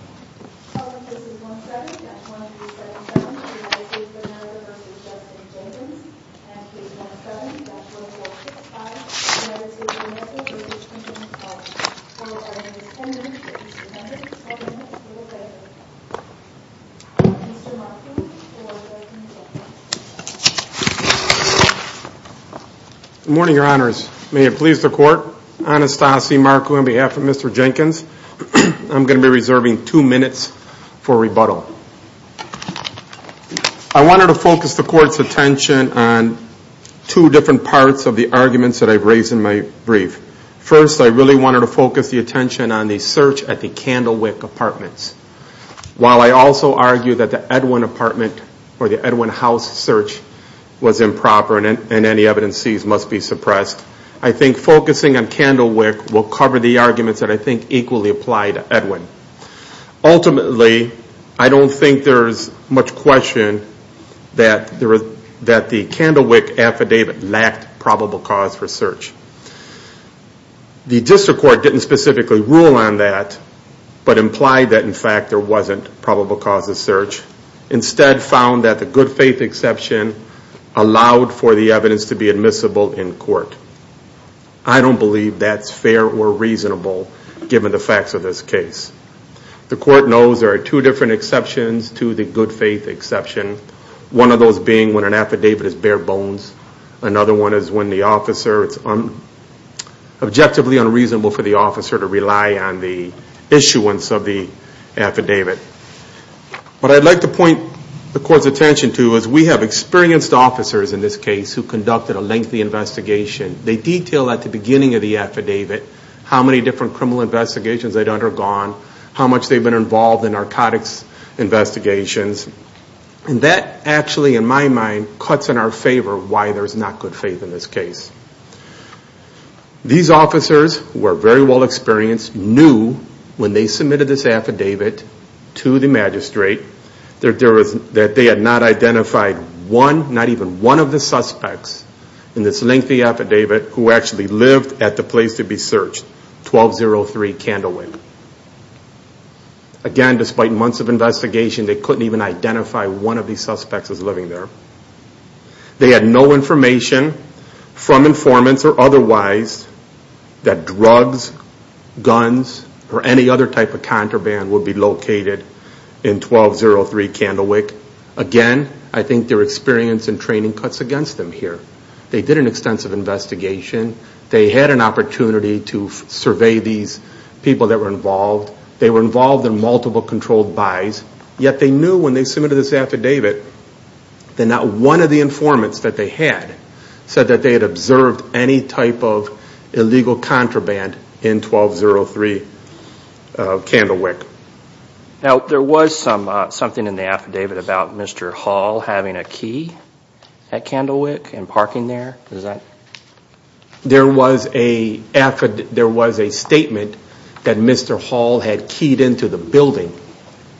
17-1377 USA v. Justin Jenkins 17-1465 USA v. Quintin Howell 17-1377 USA v. Quintin Howell Mr. Markku for Mr. Jenkins I wanted to focus the Court's attention on two different parts of the arguments that I've raised in my brief. First, I really wanted to focus the attention on the search at the Candlewick Apartments. While I also argue that the Edwin House search was improper and any evidences must be suppressed, I think focusing on Candlewick will cover the arguments that I think equally apply to Edwin. Ultimately, I don't think there's much question that the Candlewick affidavit lacked probable cause for search. The District Court didn't specifically rule on that, but implied that in fact there wasn't probable cause of search. Instead, found that the good faith exception allowed for the evidence to be admissible in court. I don't believe that's fair or reasonable given the facts of this case. The Court knows there are two different exceptions to the good faith exception. One of those being when an affidavit is bare bones. Another one is when the officer, it's objectively unreasonable for the officer to rely on the issuance of the affidavit. What I'd like to point the Court's attention to is we have experienced officers in this case who conducted a lengthy investigation. They detail at the beginning of the affidavit how many different criminal investigations they'd undergone, how much they've been involved in narcotics investigations. That actually, in my mind, cuts in our favor why there's not good faith in this case. These officers were very well experienced, knew when they submitted this affidavit to the magistrate that they had not identified one, not even one of the suspects in this lengthy affidavit who actually lived at the place to be searched, 1203 Candlewick. Again, despite months of investigation, they couldn't even identify one of these suspects as living there. They had no information from informants or otherwise that drugs, guns, or any other type of contraband would be located in 1203 Candlewick. Again, I think their experience and training cuts against them here. They did an extensive investigation. They had an opportunity to survey these people that were involved. They were involved in multiple controlled buys. Yet they knew when they submitted this affidavit that not one of the informants that they had said that they had observed any type of illegal contraband in 1203 Candlewick. Now, there was something in the affidavit about Mr. Hall having a key at Candlewick and parking there. Is that? There was a statement that Mr. Hall had keyed into the building.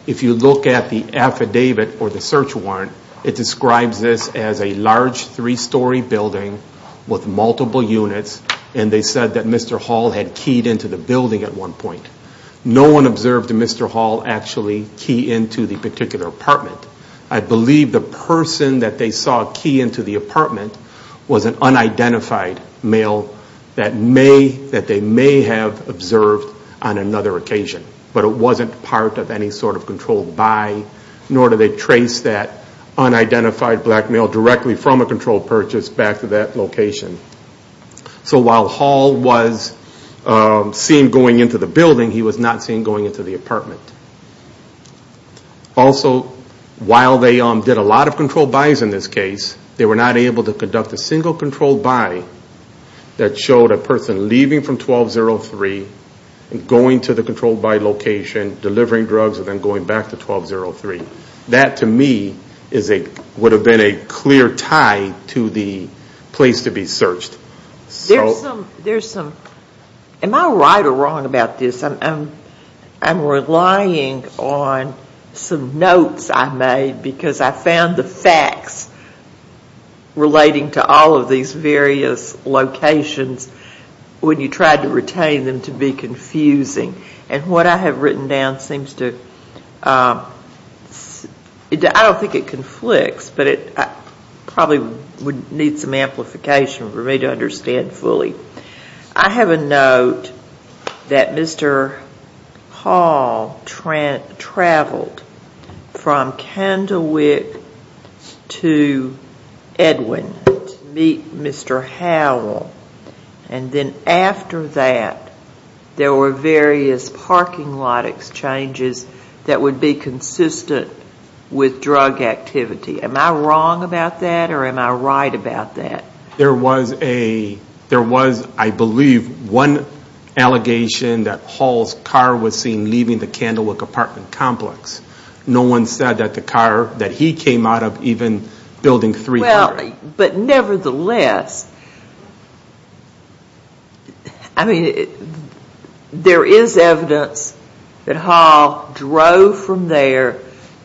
If you look at the affidavit or the search warrant, it describes this as a large three-story building with multiple units, and they said that Mr. Hall had keyed into the building at one point. No one observed Mr. Hall actually key into the particular apartment. I believe the person that they saw key into the apartment was an unidentified male that they may have observed on another occasion. But it wasn't part of any sort of controlled buy, nor did they trace that unidentified black male directly from a controlled purchase back to that location. So while Hall was seen going into the building, he was not seen going into the apartment. Also, while they did a lot of controlled buys in this case, they were not able to conduct a single controlled buy that showed a person leaving from 1203 and going to the controlled buy location, delivering drugs, and then going back to 1203. That, to me, would have been a clear tie to the place to be searched. Am I right or wrong about this? I'm relying on some notes I made because I found the facts relating to all of these various locations when you tried to retain them to be confusing. And what I have written down seems to—I don't think it conflicts, but it probably would need some amplification for me to understand fully. I have a note that Mr. Hall traveled from Candlewick to Edwin to meet Mr. Howell. And then after that, there were various parking lot exchanges that would be consistent with drug activity. Am I wrong about that or am I right about that? There was, I believe, one allegation that Hall's car was seen leaving the Candlewick apartment complex. No one said that the car that he came out of, even Building 300— But nevertheless, I mean, there is evidence that Hall drove from there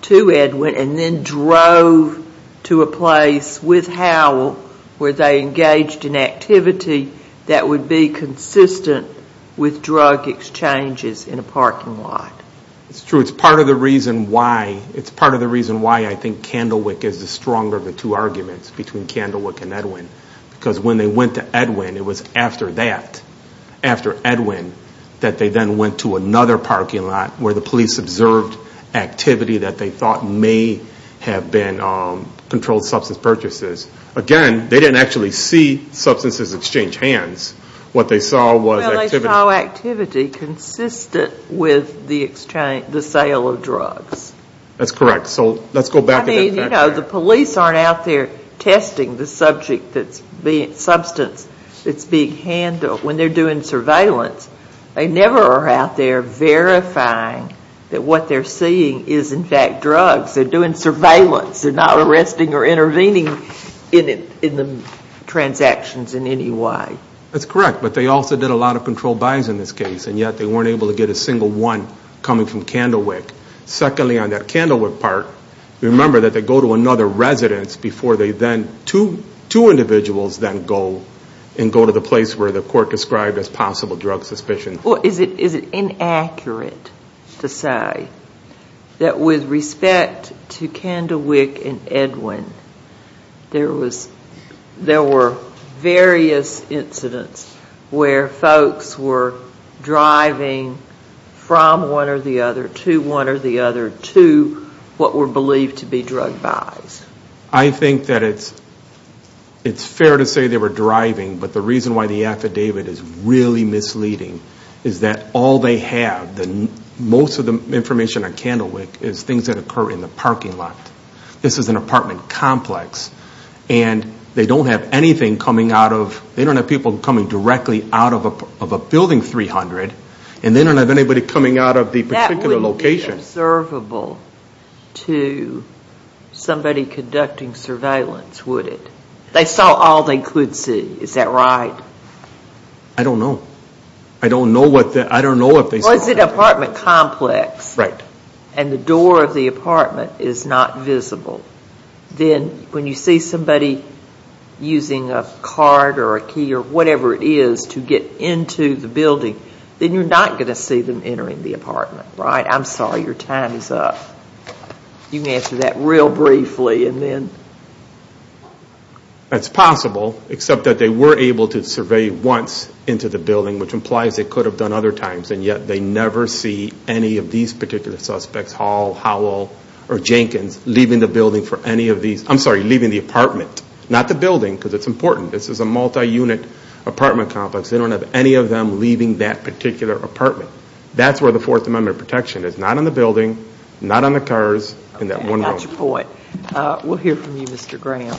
to Edwin and then drove to a place with Howell where they engaged in activity that would be consistent with drug exchanges in a parking lot. It's true. It's part of the reason why I think Candlewick is the stronger of the two arguments, between Candlewick and Edwin. Because when they went to Edwin, it was after that, after Edwin, that they then went to another parking lot where the police observed activity that they thought may have been controlled substance purchases. Again, they didn't actually see substances exchange hands. What they saw was activity— Well, they saw activity consistent with the sale of drugs. That's correct. So let's go back to that fact. I mean, you know, the police aren't out there testing the substance that's being handled. When they're doing surveillance, they never are out there verifying that what they're seeing is, in fact, drugs. They're doing surveillance. They're not arresting or intervening in the transactions in any way. That's correct, but they also did a lot of controlled buys in this case, and yet they weren't able to get a single one coming from Candlewick. Secondly, on that Candlewick part, remember that they go to another residence before they then—two individuals then go and go to the place where the court described as possible drug suspicion. Well, is it inaccurate to say that with respect to Candlewick and Edwin, there were various incidents where folks were driving from one or the other to one or the other to what were believed to be drug buys? I think that it's fair to say they were driving, but the reason why the affidavit is really misleading is that all they have, most of the information on Candlewick is things that occur in the parking lot. This is an apartment complex, and they don't have anything coming out of— they don't have people coming directly out of a Building 300, and they don't have anybody coming out of the particular location. It wouldn't be observable to somebody conducting surveillance, would it? They saw all they could see, is that right? I don't know. I don't know what they saw. Well, it's an apartment complex, and the door of the apartment is not visible. Then when you see somebody using a card or a key or whatever it is to get into the building, then you're not going to see them entering the apartment, right? I'm sorry, your time is up. You can answer that real briefly, and then— That's possible, except that they were able to survey once into the building, which implies they could have done other times, and yet they never see any of these particular suspects, Hall, Howell, or Jenkins, leaving the building for any of these—I'm sorry, leaving the apartment. Not the building, because it's important. This is a multi-unit apartment complex. They don't have any of them leaving that particular apartment. That's where the Fourth Amendment protection is. Not in the building, not on the cars, in that one room. Okay, I got your point. We'll hear from you, Mr. Graham.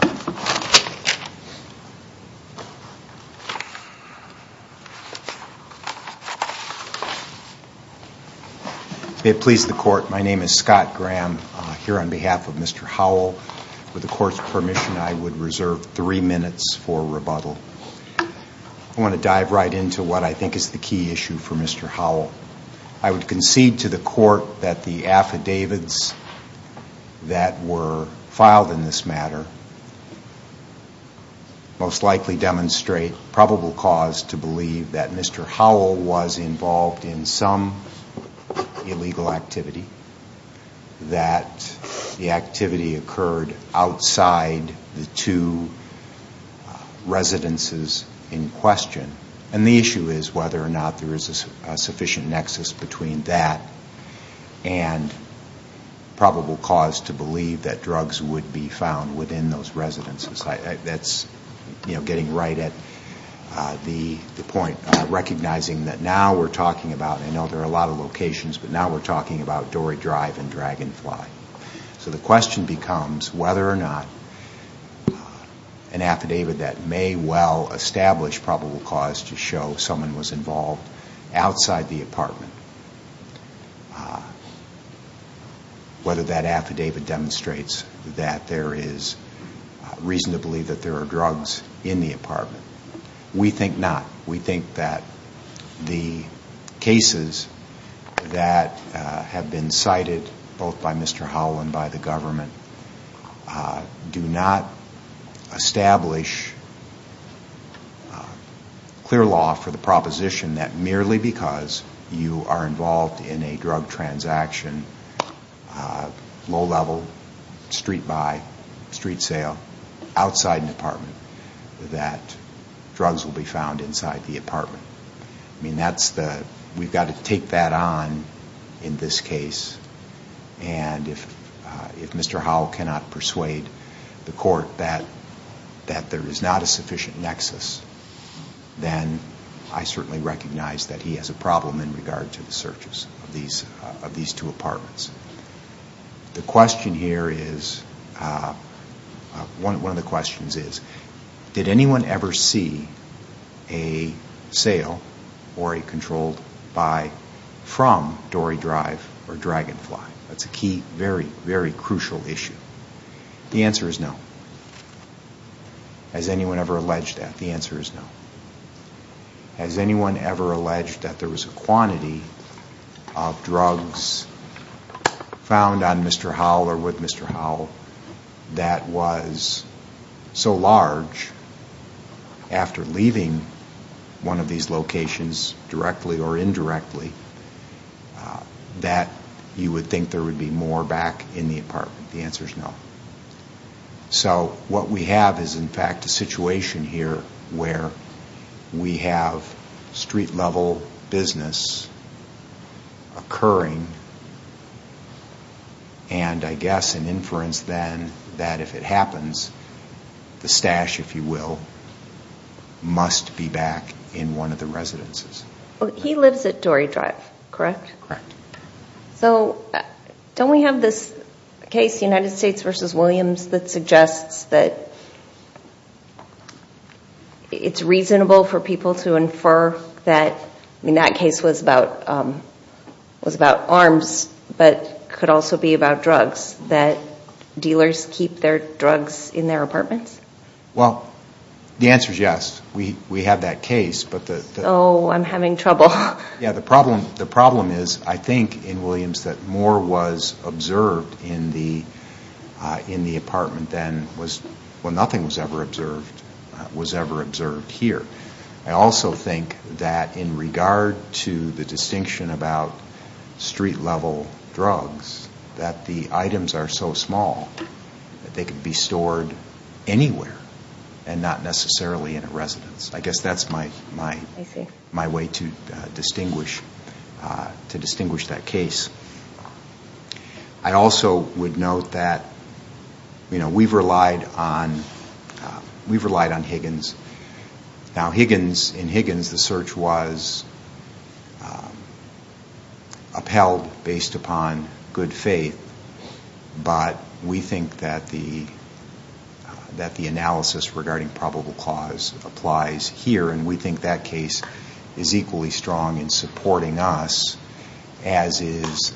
May it please the Court, my name is Scott Graham, here on behalf of Mr. Howell. With the Court's permission, I would reserve three minutes for rebuttal. I want to dive right into what I think is the key issue for Mr. Howell. I would concede to the Court that the affidavits that were filed in this matter most likely demonstrate probable cause to believe that Mr. Howell was involved in some illegal activity, that the activity occurred outside the two residences in question. And the issue is whether or not there is a sufficient nexus between that and probable cause to believe that drugs would be found within those residences. That's getting right at the point, recognizing that now we're talking about— So the question becomes whether or not an affidavit that may well establish probable cause to show someone was involved outside the apartment, whether that affidavit demonstrates that there is reason to believe that there are drugs in the apartment. We think not. We think that the cases that have been cited both by Mr. Howell and by the government do not establish clear law for the proposition that merely because you are involved in a drug transaction, low-level, street-by, street sale, outside an apartment, that drugs will be found inside the apartment. I mean, we've got to take that on in this case. And if Mr. Howell cannot persuade the Court that there is not a sufficient nexus, then I certainly recognize that he has a problem in regard to the searches of these two apartments. The question here is—one of the questions is, did anyone ever see a sale or a controlled buy from Dory Drive or Dragonfly? That's a key, very, very crucial issue. The answer is no. Has anyone ever alleged that? The answer is no. Has anyone ever alleged that there was a quantity of drugs found on Mr. Howell or with Mr. Howell that was so large, after leaving one of these locations directly or indirectly, that you would think there would be more back in the apartment? The answer is no. So what we have is, in fact, a situation here where we have street-level business occurring, and I guess an inference then that if it happens, the stash, if you will, must be back in one of the residences. He lives at Dory Drive, correct? Correct. So don't we have this case, United States v. Williams, that suggests that it's reasonable for people to infer that—I mean, that case was about arms, but could also be about drugs, that dealers keep their drugs in their apartments? Well, the answer is yes. We have that case, but the— Oh, I'm having trouble. Yeah, the problem is, I think, in Williams, that more was observed in the apartment than was— well, nothing was ever observed here. I also think that in regard to the distinction about street-level drugs, that the items are so small that they could be stored anywhere and not necessarily in a residence. I guess that's my way to distinguish that case. I also would note that we've relied on Higgins. Now, in Higgins, the search was upheld based upon good faith, but we think that the analysis regarding probable cause applies here, and we think that case is equally strong in supporting us, as is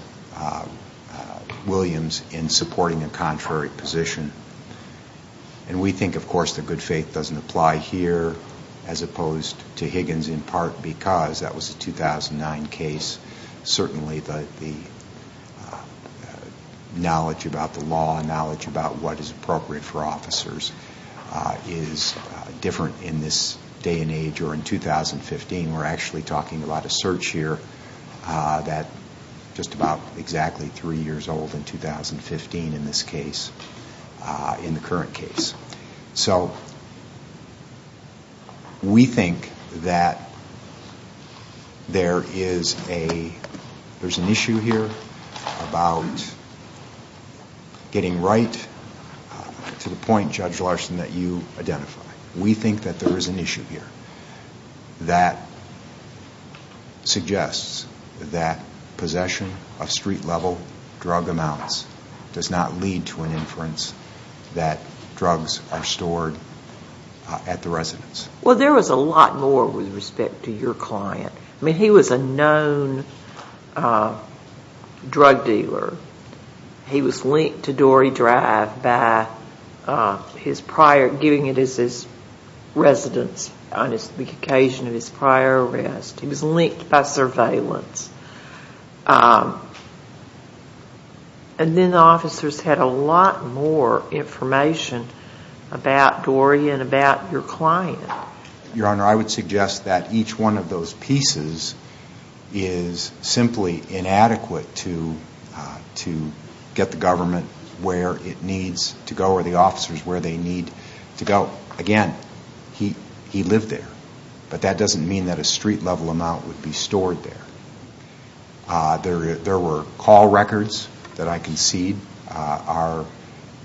Williams, in supporting a contrary position. And we think, of course, that good faith doesn't apply here, as opposed to Higgins, in part because that was a 2009 case. Certainly, the knowledge about the law, knowledge about what is appropriate for officers, is different in this day and age, or in 2015. We're actually talking about a search here that— just about exactly three years old in 2015 in this case, in the current case. So, we think that there is an issue here about getting right to the point, Judge Larson, that you identify. We think that there is an issue here that suggests that possession of street-level drug amounts does not lead to an inference that drugs are stored at the residence. Well, there was a lot more with respect to your client. I mean, he was a known drug dealer. He was linked to Dory Drive by his prior—giving it as his residence on the occasion of his prior arrest. He was linked by surveillance. And then the officers had a lot more information about Dory and about your client. Your Honor, I would suggest that each one of those pieces is simply inadequate to get the government where it needs to go, or the officers where they need to go. Now, again, he lived there, but that doesn't mean that a street-level amount would be stored there. There were call records that I concede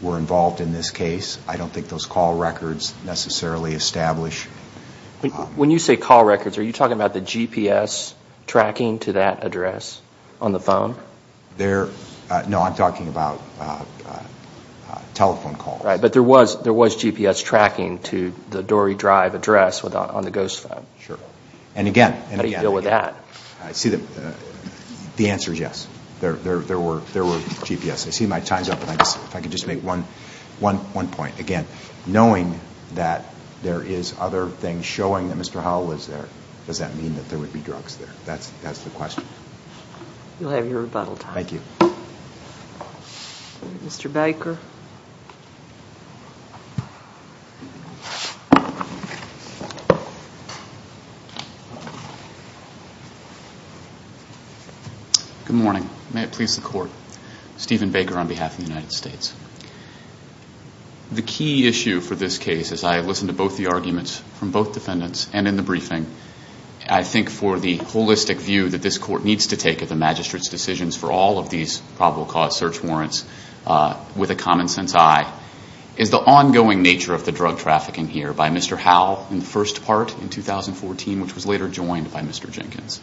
were involved in this case. I don't think those call records necessarily establish— When you say call records, are you talking about the GPS tracking to that address on the phone? No, I'm talking about telephone calls. But there was GPS tracking to the Dory Drive address on the ghost phone. Sure. And again— How do you deal with that? I see the answer is yes. There were GPS. I see my time's up, and if I could just make one point. Again, knowing that there is other things showing that Mr. Howell was there, does that mean that there would be drugs there? That's the question. You'll have your rebuttal time. Thank you. Mr. Baker. Good morning. May it please the Court. Stephen Baker on behalf of the United States. The key issue for this case, as I listened to both the arguments from both defendants and in the briefing, I think for the holistic view that this Court needs to take of the magistrate's decisions for all of these probable cause search warrants with a common sense eye, is the ongoing nature of the drug trafficking here by Mr. Howell in the first part in 2014, which was later joined by Mr. Jenkins.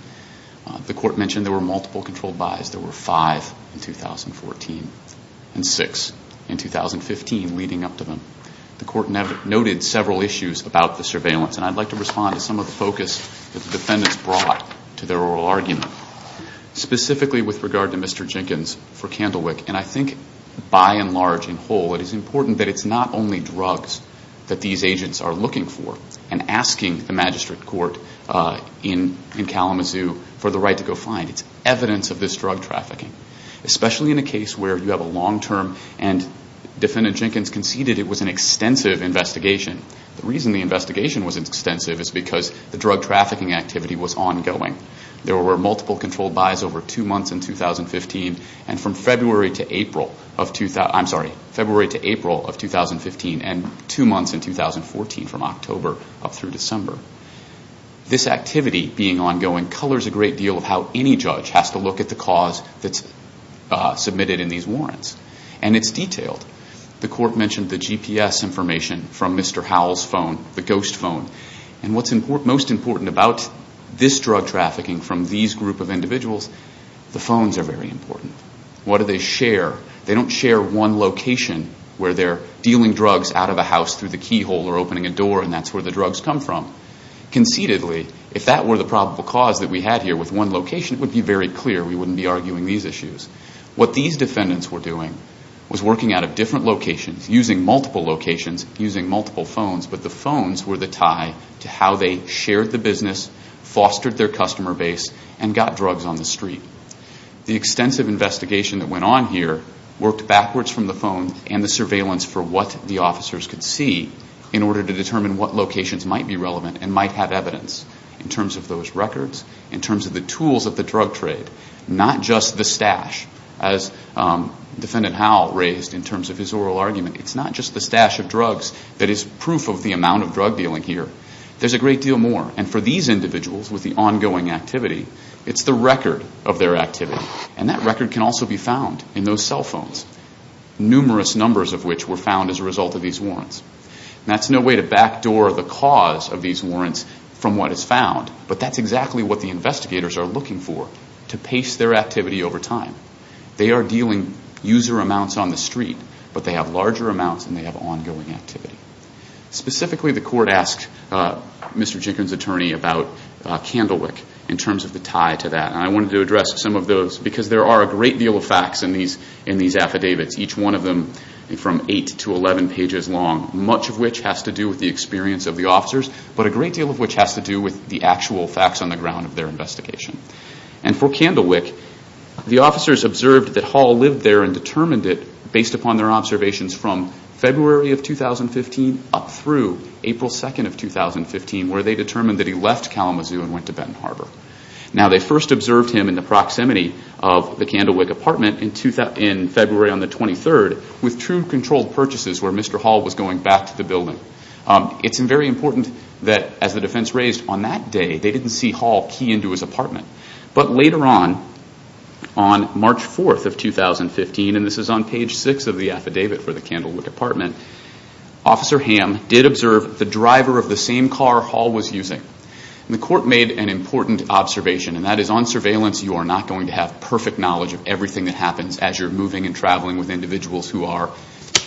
The Court mentioned there were multiple controlled buys. There were five in 2014 and six in 2015 leading up to them. The Court noted several issues about the surveillance, and I'd like to respond to some of the focus that the defendants brought to their oral argument. Specifically with regard to Mr. Jenkins for Candlewick, and I think by and large in whole it is important that it's not only drugs that these agents are looking for and asking the magistrate court in Kalamazoo for the right to go find. It's evidence of this drug trafficking, especially in a case where you have a long-term and Defendant Jenkins conceded it was an extensive investigation. The reason the investigation was extensive is because the drug trafficking activity was ongoing. There were multiple controlled buys over two months in 2015 and from February to April of 2015 and two months in 2014 from October up through December. This activity being ongoing colors a great deal of how any judge has to look at the cause that's submitted in these warrants, and it's detailed. The Court mentioned the GPS information from Mr. Howell's phone, the ghost phone, and what's most important about this drug trafficking from these group of individuals, the phones are very important. What do they share? They don't share one location where they're dealing drugs out of a house through the keyhole or opening a door and that's where the drugs come from. Conceitedly, if that were the probable cause that we had here with one location, it would be very clear we wouldn't be arguing these issues. What these defendants were doing was working out of different locations, using multiple locations, using multiple phones, but the phones were the tie to how they shared the business, fostered their customer base, and got drugs on the street. The extensive investigation that went on here worked backwards from the phone and the surveillance for what the officers could see in order to determine what locations might be relevant and might have evidence in terms of those records, in terms of the tools of the drug trade, not just the stash, as Defendant Howell raised in terms of his oral argument. It's not just the stash of drugs that is proof of the amount of drug dealing here. There's a great deal more, and for these individuals with the ongoing activity, it's the record of their activity, and that record can also be found in those cell phones, numerous numbers of which were found as a result of these warrants. That's no way to backdoor the cause of these warrants from what is found, but that's exactly what the investigators are looking for, to pace their activity over time. They are dealing user amounts on the street, but they have larger amounts and they have ongoing activity. Specifically, the court asked Mr. Jenkins' attorney about Candlewick in terms of the tie to that, and I wanted to address some of those because there are a great deal of facts in these affidavits, each one of them from 8 to 11 pages long, much of which has to do with the experience of the officers, but a great deal of which has to do with the actual facts on the ground of their investigation. For Candlewick, the officers observed that Hall lived there and determined it, based upon their observations from February of 2015 up through April 2nd of 2015, where they determined that he left Kalamazoo and went to Benton Harbor. Now, they first observed him in the proximity of the Candlewick apartment in February on the 23rd, with true controlled purchases where Mr. Hall was going back to the building. It's very important that, as the defense raised, on that day they didn't see Hall key into his apartment. But later on, on March 4th of 2015, and this is on page 6 of the affidavit for the Candlewick apartment, Officer Hamm did observe the driver of the same car Hall was using. The court made an important observation, and that is on surveillance you are not going to have perfect knowledge of everything that happens as you're moving and traveling with individuals who are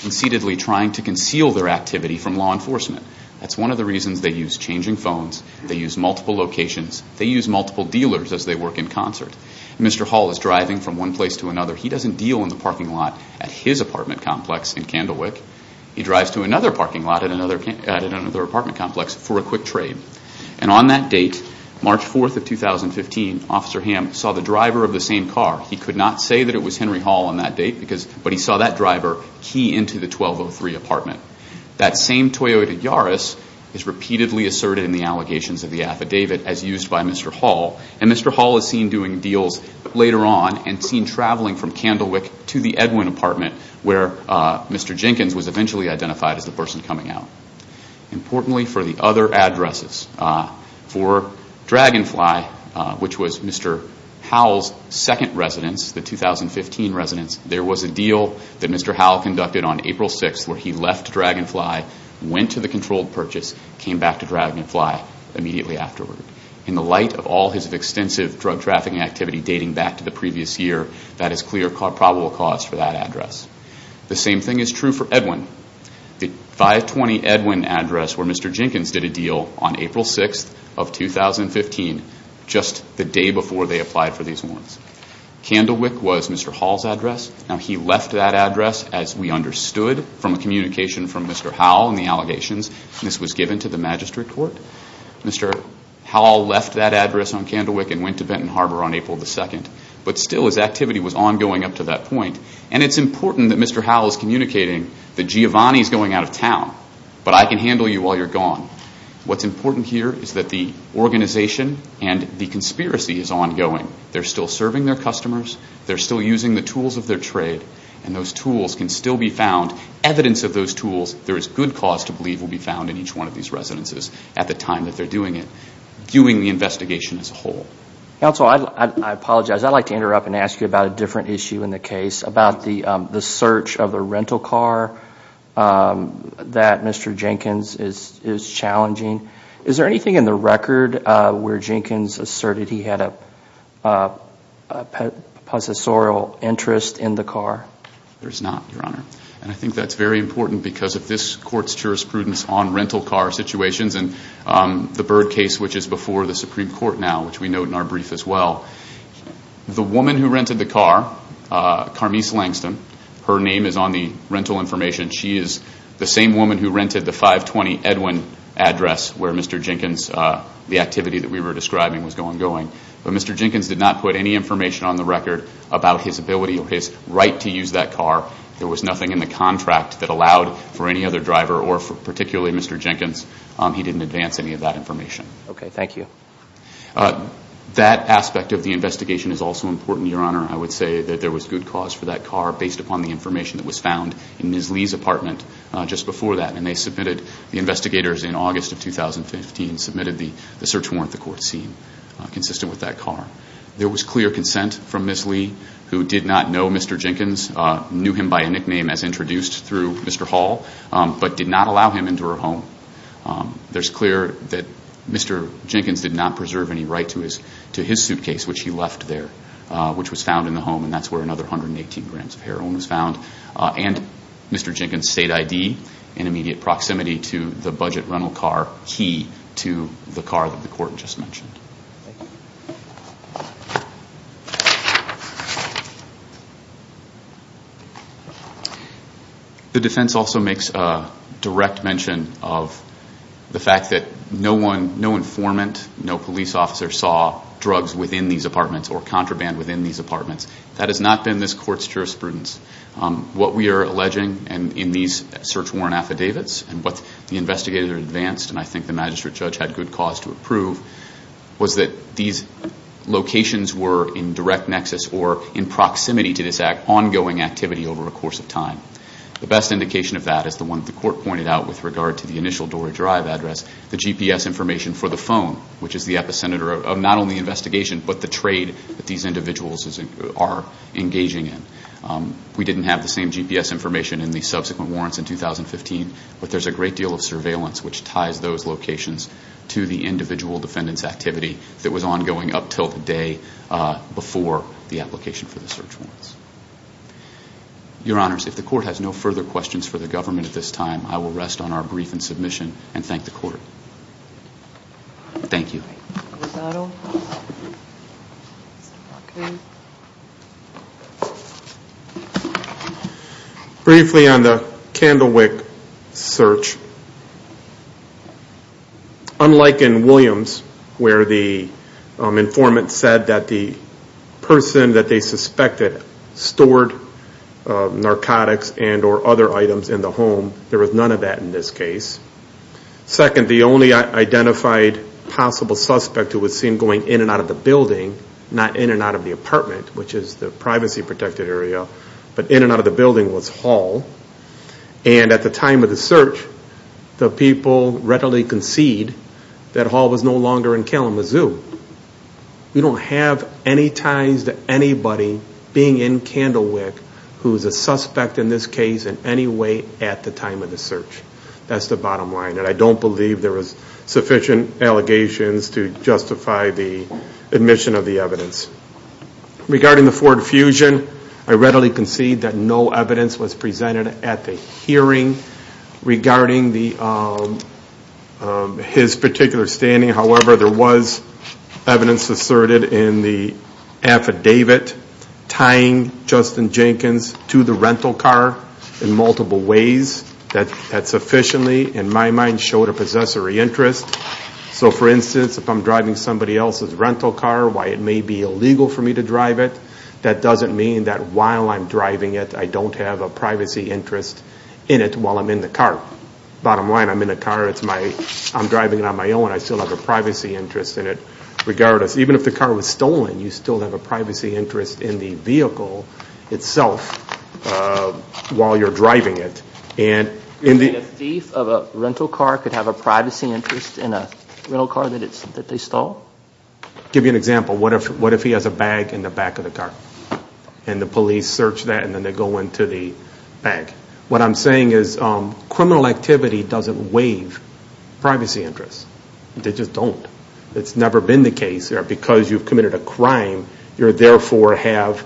conceitedly trying to conceal their activity from law enforcement. That's one of the reasons they use changing phones, they use multiple locations, they use multiple dealers as they work in concert. Mr. Hall is driving from one place to another. He doesn't deal in the parking lot at his apartment complex in Candlewick. He drives to another parking lot at another apartment complex for a quick trade. And on that date, March 4th of 2015, Officer Hamm saw the driver of the same car. He could not say that it was Henry Hall on that date, but he saw that driver key into the 1203 apartment. That same Toyota Yaris is repeatedly asserted in the allegations of the affidavit as used by Mr. Hall. And Mr. Hall is seen doing deals later on and seen traveling from Candlewick to the Edwin apartment where Mr. Jenkins was eventually identified as the person coming out. Importantly for the other addresses, for Dragonfly, which was Mr. Hall's second residence, the 2015 residence, there was a deal that Mr. Hall conducted on April 6th where he left Dragonfly, went to the controlled purchase, came back to Dragonfly immediately afterward. In the light of all his extensive drug trafficking activity dating back to the previous year, that is clear probable cause for that address. The same thing is true for Edwin. The 520 Edwin address where Mr. Jenkins did a deal on April 6th of 2015, just the day before they applied for these warrants. Candlewick was Mr. Hall's address. Now he left that address as we understood from a communication from Mr. Hall in the allegations. This was given to the magistrate court. Mr. Hall left that address on Candlewick and went to Benton Harbor on April 2nd. But still his activity was ongoing up to that point. And it's important that Mr. Hall is communicating that Giovanni is going out of town, but I can handle you while you're gone. What's important here is that the organization and the conspiracy is ongoing. They're still serving their customers. They're still using the tools of their trade. And those tools can still be found. Evidence of those tools, there is good cause to believe, will be found in each one of these residences at the time that they're doing it, doing the investigation as a whole. Counsel, I apologize. I'd like to interrupt and ask you about a different issue in the case, about the search of a rental car that Mr. Jenkins is challenging. Is there anything in the record where Jenkins asserted he had a possessorial interest in the car? There is not, Your Honor. And I think that's very important because of this Court's jurisprudence on rental car situations and the Byrd case, which is before the Supreme Court now, which we note in our brief as well. The woman who rented the car, Carmise Langston, her name is on the rental information. She is the same woman who rented the 520 Edwin address where Mr. Jenkins, the activity that we were describing was ongoing. But Mr. Jenkins did not put any information on the record about his ability or his right to use that car. There was nothing in the contract that allowed for any other driver or particularly Mr. Jenkins. He didn't advance any of that information. Okay. Thank you. That aspect of the investigation is also important, Your Honor. I would say that there was good cause for that car, based upon the information that was found in Ms. Lee's apartment just before that. And they submitted, the investigators in August of 2015, submitted the search warrant the Court seen consistent with that car. There was clear consent from Ms. Lee, who did not know Mr. Jenkins, knew him by a nickname as introduced through Mr. Hall, but did not allow him into her home. There's clear that Mr. Jenkins did not preserve any right to his suitcase, which he left there, which was found in the home, and that's where another 118 grams of heroin was found, and Mr. Jenkins' state ID in immediate proximity to the budget rental car, to the car that the Court just mentioned. The defense also makes a direct mention of the fact that no informant, no police officer saw drugs within these apartments or contraband within these apartments. That has not been this Court's jurisprudence. What we are alleging in these search warrant affidavits, and what the investigator advanced, and I think the magistrate judge had good cause to approve, was that these locations were in direct nexus or in proximity to this ongoing activity over a course of time. The best indication of that is the one the Court pointed out with regard to the initial door drive address, the GPS information for the phone, which is the epicenter of not only investigation, but the trade that these individuals are engaging in. We didn't have the same GPS information in the subsequent warrants in 2015, but there's a great deal of surveillance which ties those locations to the individual defendant's activity that was ongoing up until the day before the application for the search warrants. Your Honors, if the Court has no further questions for the government at this time, I will rest on our brief and submission and thank the Court. Thank you. Okay. Briefly on the Candlewick search, unlike in Williams where the informant said that the person that they suspected stored narcotics and or other items in the home, there was none of that in this case. Second, the only identified possible suspect who was seen going in and out of the building, not in and out of the apartment, which is the privacy protected area, but in and out of the building was Hall. And at the time of the search, the people readily concede that Hall was no longer in Kalamazoo. We don't have any ties to anybody being in Candlewick who is a suspect in this case in any way at the time of the search. That's the bottom line. And I don't believe there was sufficient allegations to justify the admission of the evidence. Regarding the Ford Fusion, I readily concede that no evidence was presented at the hearing regarding his particular standing. However, there was evidence asserted in the affidavit tying Justin Jenkins to the rental car in multiple ways. That sufficiently, in my mind, showed a possessory interest. So for instance, if I'm driving somebody else's rental car, while it may be illegal for me to drive it, that doesn't mean that while I'm driving it, I don't have a privacy interest in it while I'm in the car. Bottom line, I'm in the car, I'm driving it on my own, I still have a privacy interest in it. Regardless, even if the car was stolen, you still have a privacy interest in the vehicle itself while you're driving it. You're saying a thief of a rental car could have a privacy interest in a rental car that they stole? I'll give you an example. What if he has a bag in the back of the car? And the police search that and then they go into the bag. What I'm saying is criminal activity doesn't waive privacy interests. They just don't. It's never been the case that because you've committed a crime, you've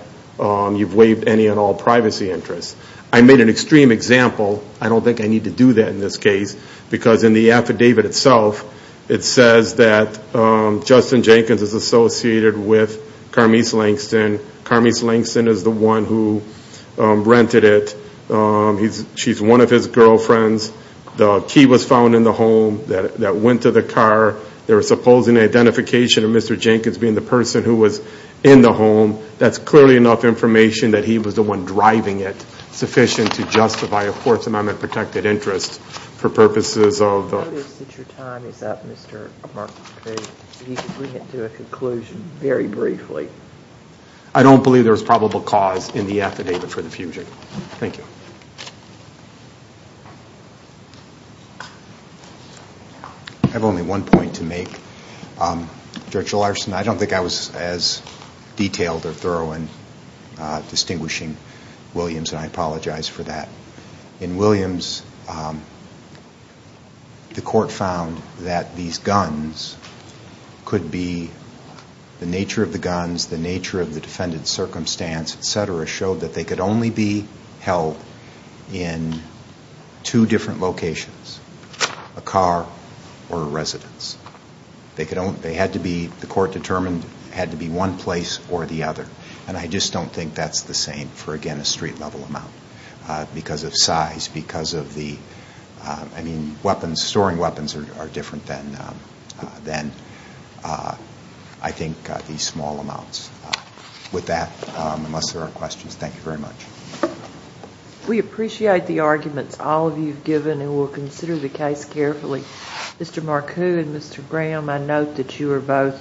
waived any and all privacy interests. I made an extreme example. I don't think I need to do that in this case because in the affidavit itself, it says that Justin Jenkins is associated with Carmise Langston. Carmise Langston is the one who rented it. She's one of his girlfriends. The key was found in the home that went to the car. There was supposed identification of Mr. Jenkins being the person who was in the home. That's clearly enough information that he was the one driving it, sufficient to justify a Fourth Amendment protected interest for purposes of the- Since your time is up, Mr. McCrae, if you could bring it to a conclusion very briefly. I don't believe there was probable cause in the affidavit for the fugitive. Thank you. I have only one point to make, Judge Larson. I don't think I was as detailed or thorough in distinguishing Williams, and I apologize for that. In Williams, the court found that these guns could be- the nature of the guns, the nature of the defendant's circumstance, et cetera, showed that they could only be held in two different locations, a car or a residence. They had to be-the court determined it had to be one place or the other, and I just don't think that's the same for, again, a street-level amount because of size, because of the-I mean, weapons, storing weapons are different than, I think, these small amounts. With that, unless there are questions, thank you very much. We appreciate the arguments all of you have given, and we'll consider the case carefully. Mr. Marcoux and Mr. Graham, I note that you are both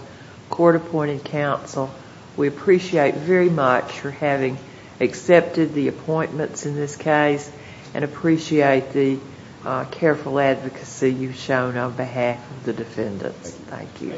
court-appointed counsel. We appreciate very much for having accepted the appointments in this case and appreciate the careful advocacy you've shown on behalf of the defendants. Thank you.